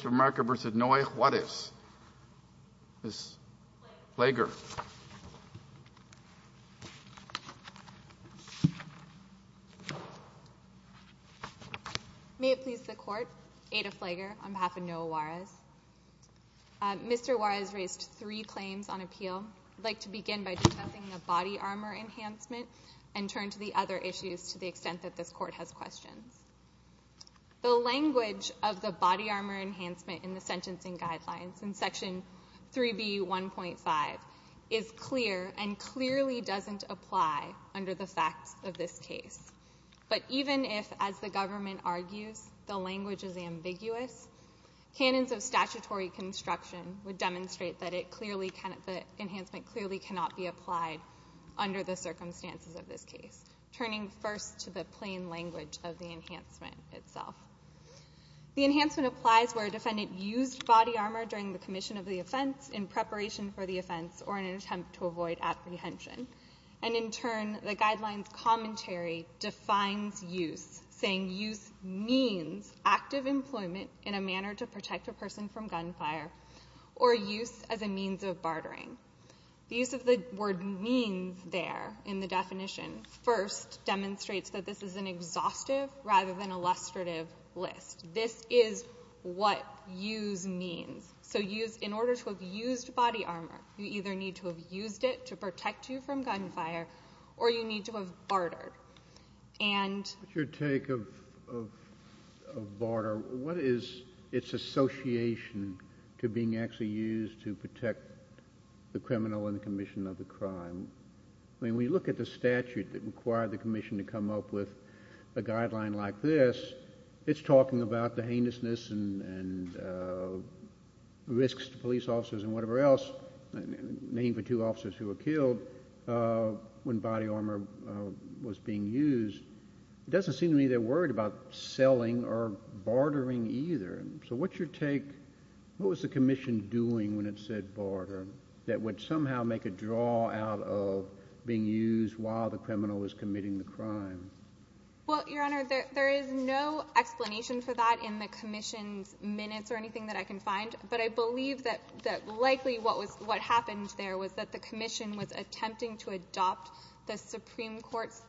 Mr. Marker v. Noe Juarez Ms. Flager May it please the Court, Ada Flager on behalf of Noe Juarez Mr. Juarez raised three claims on appeal I'd like to begin by discussing the body armor enhancement and turn to the other issues to the extent that this Court has questions The language of the body armor enhancement in the sentencing guidelines in section 3B.1.5 is clear and clearly doesn't apply under the facts of this case But even if, as the government argues, the language is ambiguous canons of statutory construction would demonstrate that it clearly the enhancement clearly cannot be applied under the circumstances of this case turning first to the plain language of the enhancement itself The enhancement applies where a defendant used body armor during the commission of the offense in preparation for the offense or in an attempt to avoid apprehension And in turn, the guidelines commentary defines use saying use means active employment in a manner to protect a person from gunfire or use as a means of bartering The use of the word means there in the definition first demonstrates that this is an exhaustive rather than illustrative list This is what use means So use, in order to have used body armor you either need to have used it to protect you from gunfire or you need to have bartered What's your take of barter? What is its association to being actually used to protect the criminal and the commission of the crime? When we look at the statute that required the commission to come up with a guideline like this it's talking about the heinousness and risks to police officers and whatever else Name for two officers who were killed when body armor was being used It doesn't seem to me they're worried about selling or bartering either So what's your take? What was the commission doing when it said barter that would somehow make a draw out of being used while the criminal was committing the crime? Well, Your Honor, there is no explanation for that in the commission's minutes or anything that I can find But I believe that likely what happened there was that the commission was attempting to adopt the Supreme Court's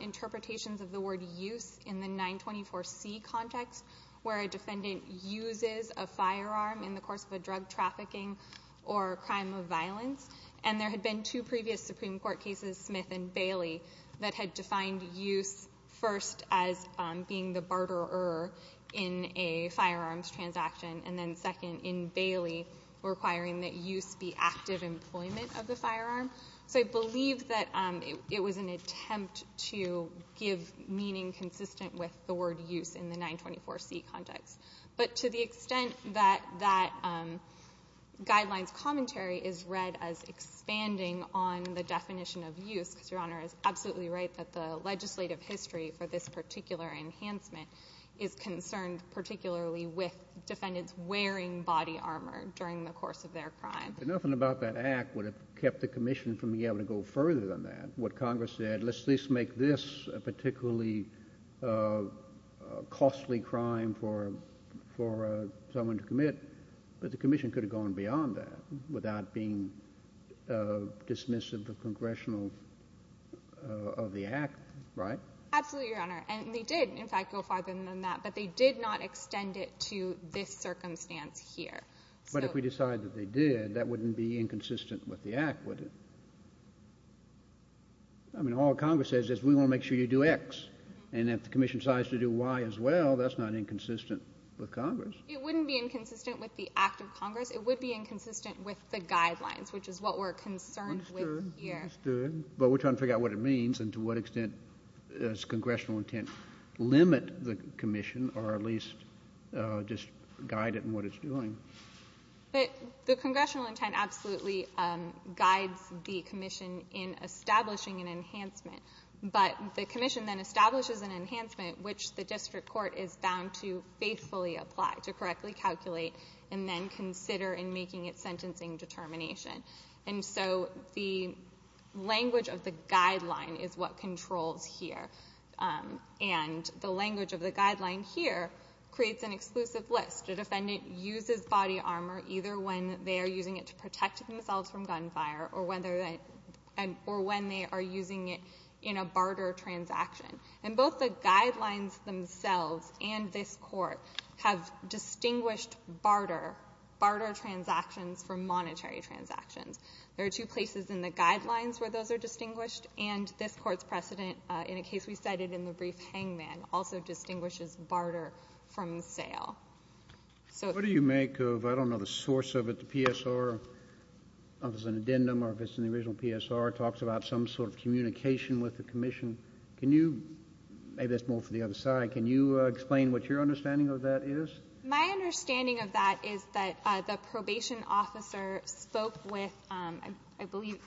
interpretations of the word use in the 924C context where a defendant uses a firearm in the course of a drug trafficking or crime of violence and there had been two previous Supreme Court cases, Smith and Bailey that had defined use first as being the barterer in a firearms transaction and then second, in Bailey, requiring that use be active employment of the firearm So I believe that it was an attempt to give meaning consistent with the word use in the 924C context But to the extent that that guideline's commentary is read as expanding on the definition of use because Your Honor is absolutely right that the legislative history for this particular enhancement is concerned particularly with defendants wearing body armor during the course of their crime But nothing about that act would have kept the commission from being able to go further than that What Congress said, let's at least make this a particularly costly crime for someone to commit But the commission could have gone beyond that without being dismissive of the congressional, of the act, right? Absolutely, Your Honor. And they did, in fact, go farther than that But they did not extend it to this circumstance here But if we decide that they did, that wouldn't be inconsistent with the act, would it? I mean, all Congress says is we want to make sure you do X And if the commission decides to do Y as well, that's not inconsistent with Congress It wouldn't be inconsistent with the act of Congress It would be inconsistent with the guidelines, which is what we're concerned with here But we're trying to figure out what it means and to what extent does congressional intent limit the commission or at least just guide it in what it's doing? The congressional intent absolutely guides the commission in establishing an enhancement But the commission then establishes an enhancement which the district court is bound to faithfully apply to correctly calculate and then consider in making its sentencing determination And so the language of the guideline is what controls here And the language of the guideline here creates an exclusive list The defendant uses body armor either when they are using it to protect themselves from gunfire or when they are using it in a barter transaction And both the guidelines themselves and this court have distinguished barter, barter transactions from monetary transactions There are two places in the guidelines where those are distinguished And this court's precedent in a case we cited in the brief hangman also distinguishes barter from sale What do you make of, I don't know the source of it, the PSR, if it's an addendum or if it's in the original PSR, talks about some sort of communication with the commission Can you, maybe that's more for the other side, can you explain what your understanding of that is? My understanding of that is that the probation officer spoke with, I believe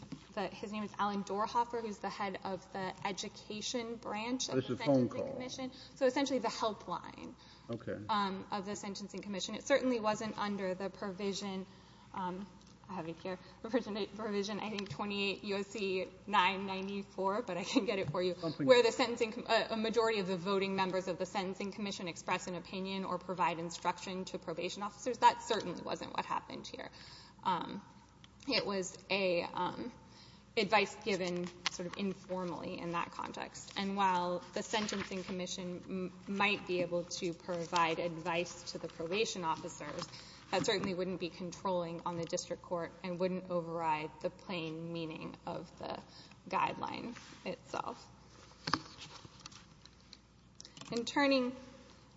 his name is Alan Dorhoffer who's the head of the education branch of the Sentencing Commission So essentially the helpline of the Sentencing Commission It certainly wasn't under the provision, I have it here, provision I think 28 U.S.C. 994, but I can get it for you, where the majority of the voting members of the Sentencing Commission express an opinion or provide instruction to probation officers, that certainly wasn't what happened here It was advice given sort of informally in that context And while the Sentencing Commission might be able to provide advice to the probation officers, that certainly wouldn't be controlling on the district court and wouldn't override the plain meaning of the guideline itself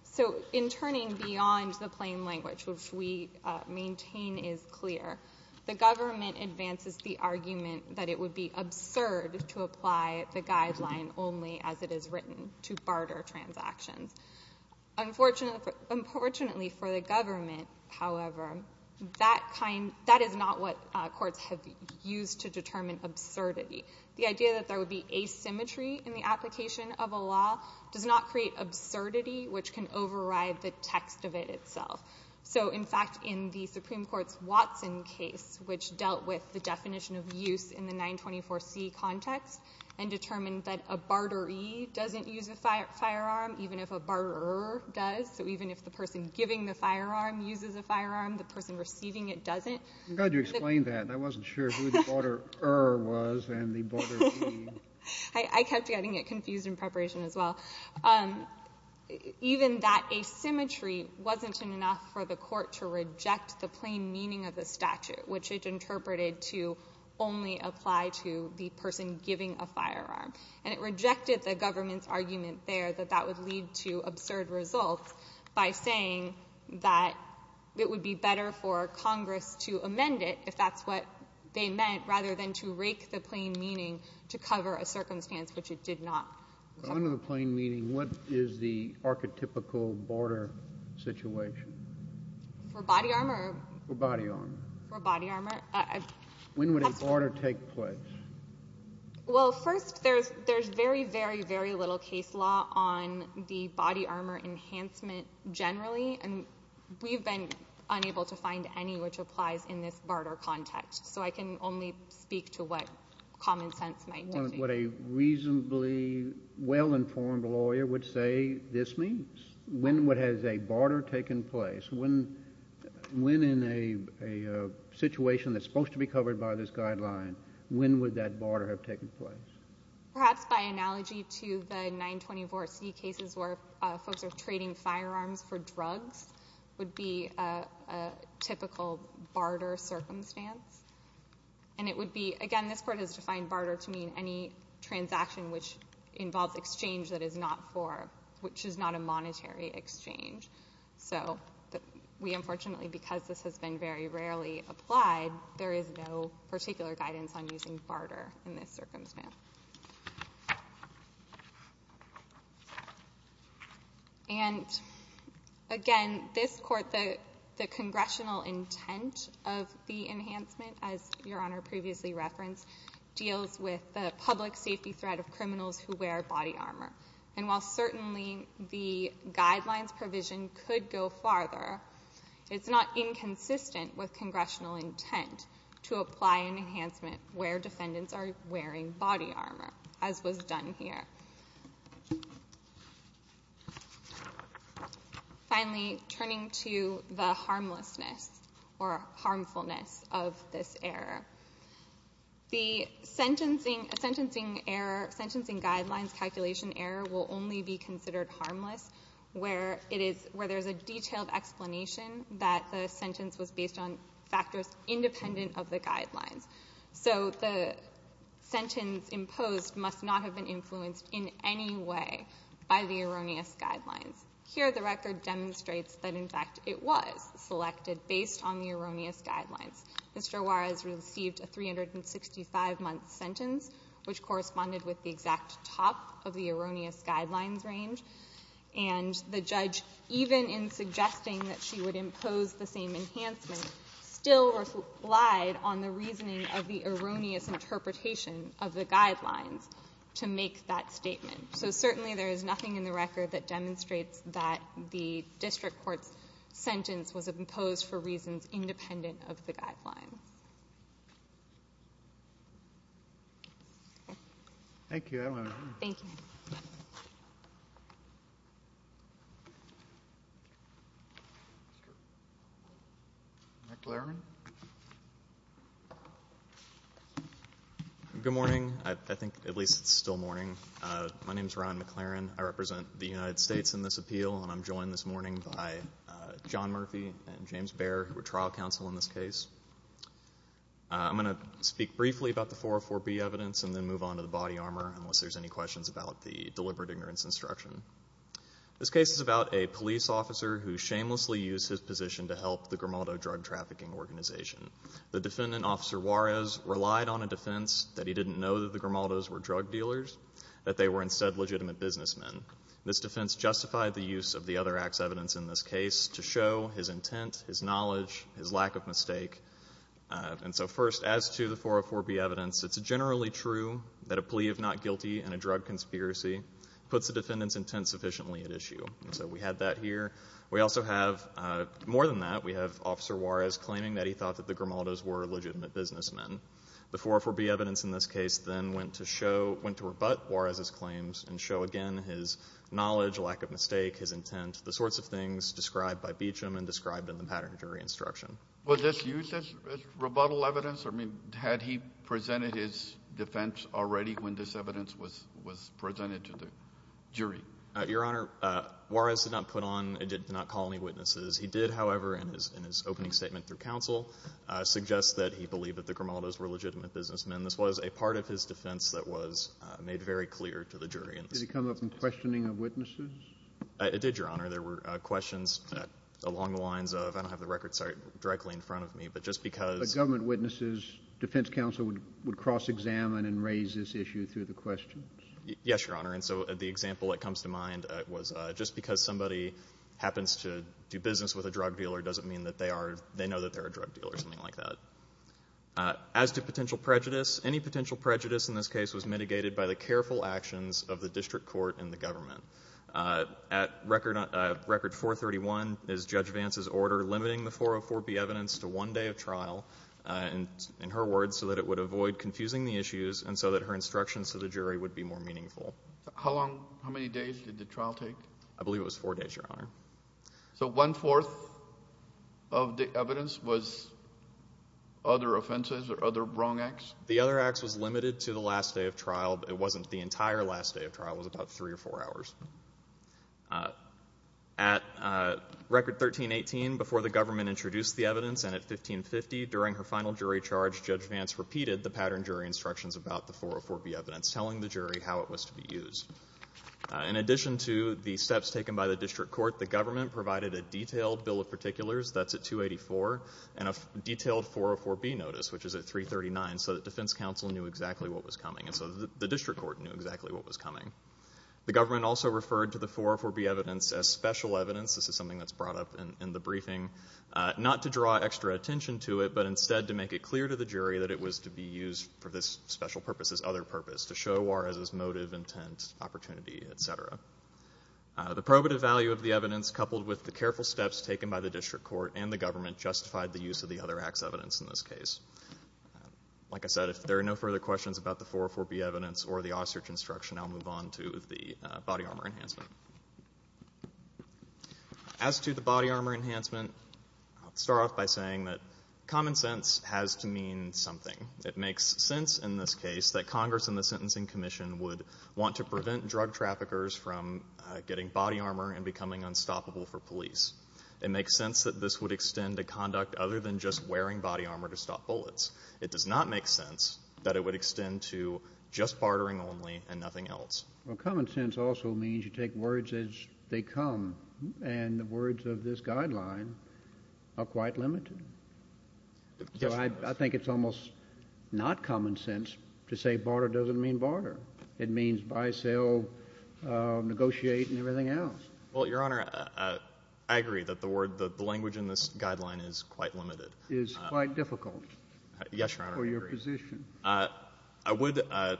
So in turning beyond the plain language, which we maintain is clear, the government advances the argument that it would be absurd to apply the guideline only as it is written to barter transactions Unfortunately for the government, however, that is not what courts have used to determine absurdity The idea that there would be asymmetry in the application of a law does not create absurdity which can override the text of it itself So in fact in the Supreme Court's Watson case, which dealt with the definition of use in the 924C context and determined that a barteree doesn't use a firearm even if a barterer does So even if the person giving the firearm uses a firearm, the person receiving it doesn't I'm glad you explained that. I wasn't sure who the barterer was and the barteree I kept getting it confused in preparation as well Even that asymmetry wasn't enough for the court to reject the plain meaning of the statute which it interpreted to only apply to the person giving a firearm And it rejected the government's argument there that that would lead to absurd results by saying that it would be better for Congress to amend it if that's what they meant rather than to rake the plain meaning to cover a circumstance which it did not Under the plain meaning, what is the archetypical barter situation? For body armor? For body armor For body armor When would a barter take place? Well, first, there's very, very, very little case law on the body armor enhancement generally and we've been unable to find any which applies in this barter context So I can only speak to what common sense might dictate What a reasonably well-informed lawyer would say this means When has a barter taken place? When in a situation that's supposed to be covered by this guideline, when would that barter have taken place? Perhaps by analogy to the 924C cases where folks are trading firearms for drugs would be a typical barter circumstance And it would be, again, this court has defined barter to mean any transaction which involves exchange that is not a monetary exchange So we, unfortunately, because this has been very rarely applied, there is no particular guidance on using barter in this circumstance And, again, this court, the congressional intent of the enhancement, as Your Honor previously referenced, deals with the public safety threat of criminals who wear body armor And while certainly the guidelines provision could go farther, it's not inconsistent with congressional intent to apply an enhancement where defendants are wearing body armor, as was done here Finally, turning to the harmlessness or harmfulness of this error The sentencing guidelines calculation error will only be considered harmless where there is a detailed explanation that the sentence was based on factors independent of the guidelines So the sentence imposed must not have been influenced in any way by the erroneous guidelines Here, the record demonstrates that, in fact, it was selected based on the erroneous guidelines Mr. Juarez received a 365-month sentence, which corresponded with the exact top of the erroneous guidelines range And the judge, even in suggesting that she would impose the same enhancement, still relied on the reasoning of the erroneous interpretation of the guidelines to make that statement So certainly there is nothing in the record that demonstrates that the district court's sentence was imposed for reasons independent of the guidelines Thank you. I don't have anything. Thank you. McLaren? Good morning. I think at least it's still morning. My name is Ron McLaren. I represent the United States in this appeal, and I'm joined this morning by John Murphy and James Baer, who are trial counsel in this case I'm going to speak briefly about the 404B evidence and then move on to the body armor unless there's any questions about the deliberate ignorance instruction This case is about a police officer who shamelessly used his position to help the Grimaldo drug trafficking organization The defendant, Officer Juarez, relied on a defense that he didn't know that the Grimaldos were drug dealers, that they were instead legitimate businessmen This defense justified the use of the other act's evidence in this case to show his intent, his knowledge, his lack of mistake And so first, as to the 404B evidence, it's generally true that a plea of not guilty and a drug conspiracy puts the defendant's intent sufficiently at issue And so we had that here We also have, more than that, we have Officer Juarez claiming that he thought that the Grimaldos were legitimate businessmen The 404B evidence in this case then went to show, went to rebut Juarez's claims and show again his knowledge, lack of mistake, his intent, the sorts of things described by Beecham and described in the pattern of jury instruction Was this used as rebuttal evidence? I mean, had he presented his defense already when this evidence was presented to the jury? Your Honor, Juarez did not put on, did not call any witnesses He did, however, in his opening statement through counsel, suggest that he believed that the Grimaldos were legitimate businessmen This was a part of his defense that was made very clear to the jury Did it come up in questioning of witnesses? It did, Your Honor. There were questions along the lines of, I don't have the records directly in front of me, but just because But government witnesses, defense counsel would cross-examine and raise this issue through the questions? Yes, Your Honor, and so the example that comes to mind was just because somebody happens to do business with a drug dealer doesn't mean that they know that they're a drug dealer or something like that As to potential prejudice, any potential prejudice in this case was mitigated by the careful actions of the district court and the government At record 431 is Judge Vance's order limiting the 404B evidence to one day of trial in her words, so that it would avoid confusing the issues and so that her instructions to the jury would be more meaningful How long, how many days did the trial take? I believe it was four days, Your Honor So one-fourth of the evidence was other offenses or other wrong acts? The other acts was limited to the last day of trial, but it wasn't the entire last day of trial, it was about three or four hours At record 1318, before the government introduced the evidence, and at 1550, during her final jury charge Judge Vance repeated the pattern jury instructions about the 404B evidence, telling the jury how it was to be used In addition to the steps taken by the district court, the government provided a detailed bill of particulars, that's at 284 and a detailed 404B notice, which is at 339, so that defense counsel knew exactly what was coming and so the district court knew exactly what was coming The government also referred to the 404B evidence as special evidence, this is something that's brought up in the briefing not to draw extra attention to it, but instead to make it clear to the jury that it was to be used for this special purpose this other purpose, to show Juarez's motive, intent, opportunity, etc. The probative value of the evidence, coupled with the careful steps taken by the district court and the government justified the use of the other acts evidence in this case Like I said, if there are no further questions about the 404B evidence or the Ossert instruction, I'll move on to the body armor enhancement As to the body armor enhancement, I'll start off by saying that common sense has to mean something It makes sense, in this case, that Congress and the Sentencing Commission would want to prevent drug traffickers from getting body armor and becoming unstoppable for police It makes sense that this would extend to conduct other than just wearing body armor to stop bullets It does not make sense that it would extend to just bartering only and nothing else Common sense also means you take words as they come, and the words of this guideline are quite limited So I think it's almost not common sense to say barter doesn't mean barter It means buy, sell, negotiate, and everything else Well, Your Honor, I agree that the language in this guideline is quite limited It's quite difficult for your position I would add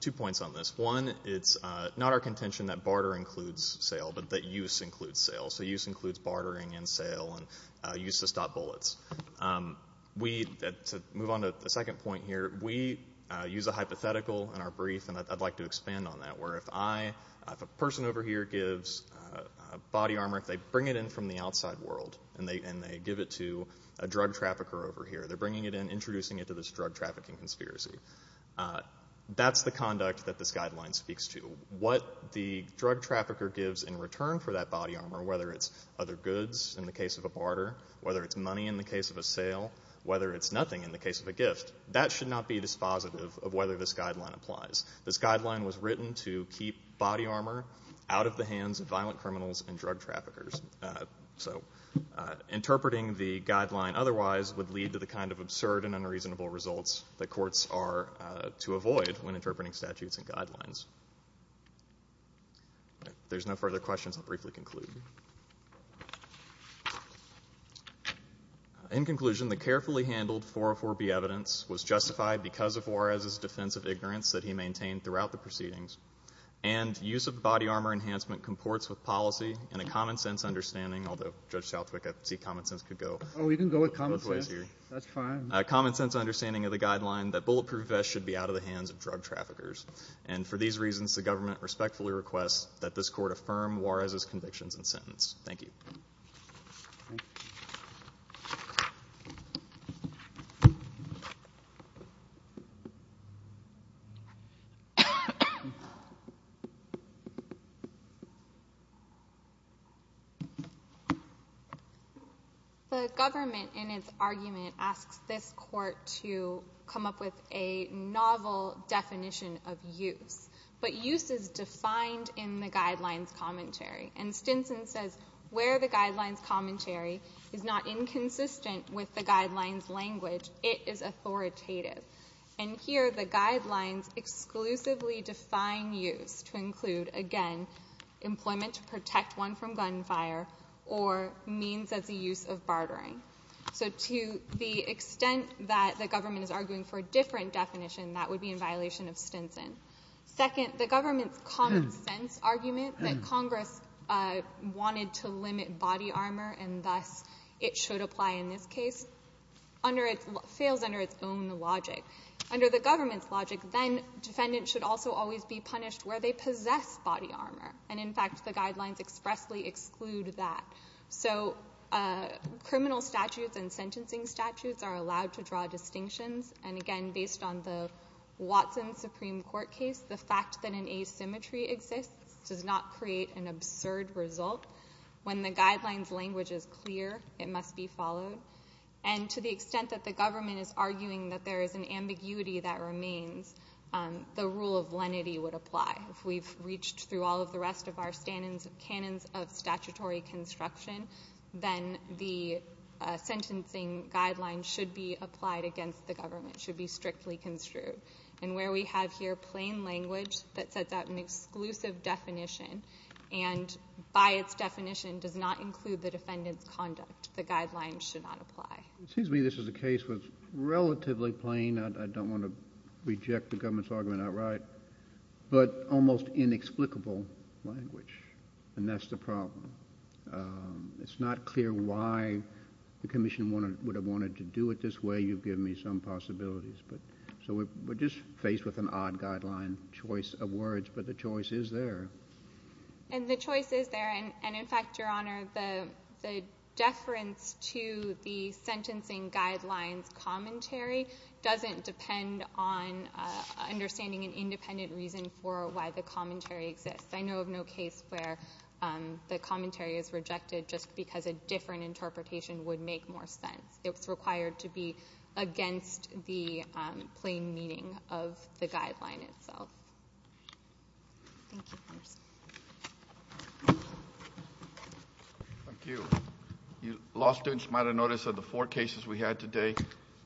two points on this One, it's not our contention that barter includes sale, but that use includes sale So use includes bartering and sale and use to stop bullets To move on to the second point here, we use a hypothetical in our brief, and I'd like to expand on that If a person over here gives body armor, if they bring it in from the outside world and they give it to a drug trafficker over here They're bringing it in, introducing it to this drug trafficking conspiracy That's the conduct that this guideline speaks to What the drug trafficker gives in return for that body armor, whether it's other goods in the case of a barter whether it's money in the case of a sale, whether it's nothing in the case of a gift that should not be dispositive of whether this guideline applies This guideline was written to keep body armor out of the hands of violent criminals and drug traffickers Interpreting the guideline otherwise would lead to the kind of absurd and unreasonable results that courts are to avoid when interpreting statutes and guidelines If there's no further questions, I'll briefly conclude In conclusion, the carefully handled 404B evidence was justified because of Juarez's defense of ignorance that he maintained throughout the proceedings And use of body armor enhancement comports with policy and a common sense understanding Although Judge Southwick, I see common sense could go both ways here A common sense understanding of the guideline that bulletproof vests should be out of the hands of drug traffickers And for these reasons, the government respectfully requests that this court affirm Juarez's convictions and sentence Thank you The government in its argument asks this court to come up with a novel definition of use But use is defined in the guidelines commentary And Stinson says where the guidelines commentary is not inconsistent with the guidelines language It is authoritative And here the guidelines exclusively define use to include, again, employment to protect one from gunfire Or means as a use of bartering So to the extent that the government is arguing for a different definition, that would be in violation of Stinson Second, the government's common sense argument that Congress wanted to limit body armor And thus it should apply in this case, fails under its own logic Under the government's logic, then defendants should also always be punished where they possess body armor And in fact, the guidelines expressly exclude that So criminal statutes and sentencing statutes are allowed to draw distinctions And again, based on the Watson Supreme Court case, the fact that an asymmetry exists does not create an absurd result When the guidelines language is clear, it must be followed And to the extent that the government is arguing that there is an ambiguity that remains, the rule of lenity would apply If we've reached through all of the rest of our canons of statutory construction Then the sentencing guidelines should be applied against the government, should be strictly construed And where we have here plain language that sets out an exclusive definition And by its definition, does not include the defendant's conduct The guidelines should not apply It seems to me this is a case that's relatively plain I don't want to reject the government's argument outright But almost inexplicable language And that's the problem It's not clear why the commission would have wanted to do it this way You've given me some possibilities So we're just faced with an odd guideline choice of words But the choice is there And the choice is there And in fact, Your Honor, the deference to the sentencing guidelines commentary Doesn't depend on understanding an independent reason for why the commentary exists I know of no case where the commentary is rejected just because a different interpretation would make more sense It's required to be against the plain meaning of the guideline itself Thank you, Your Honor Thank you Law students might have noticed that the four cases we had today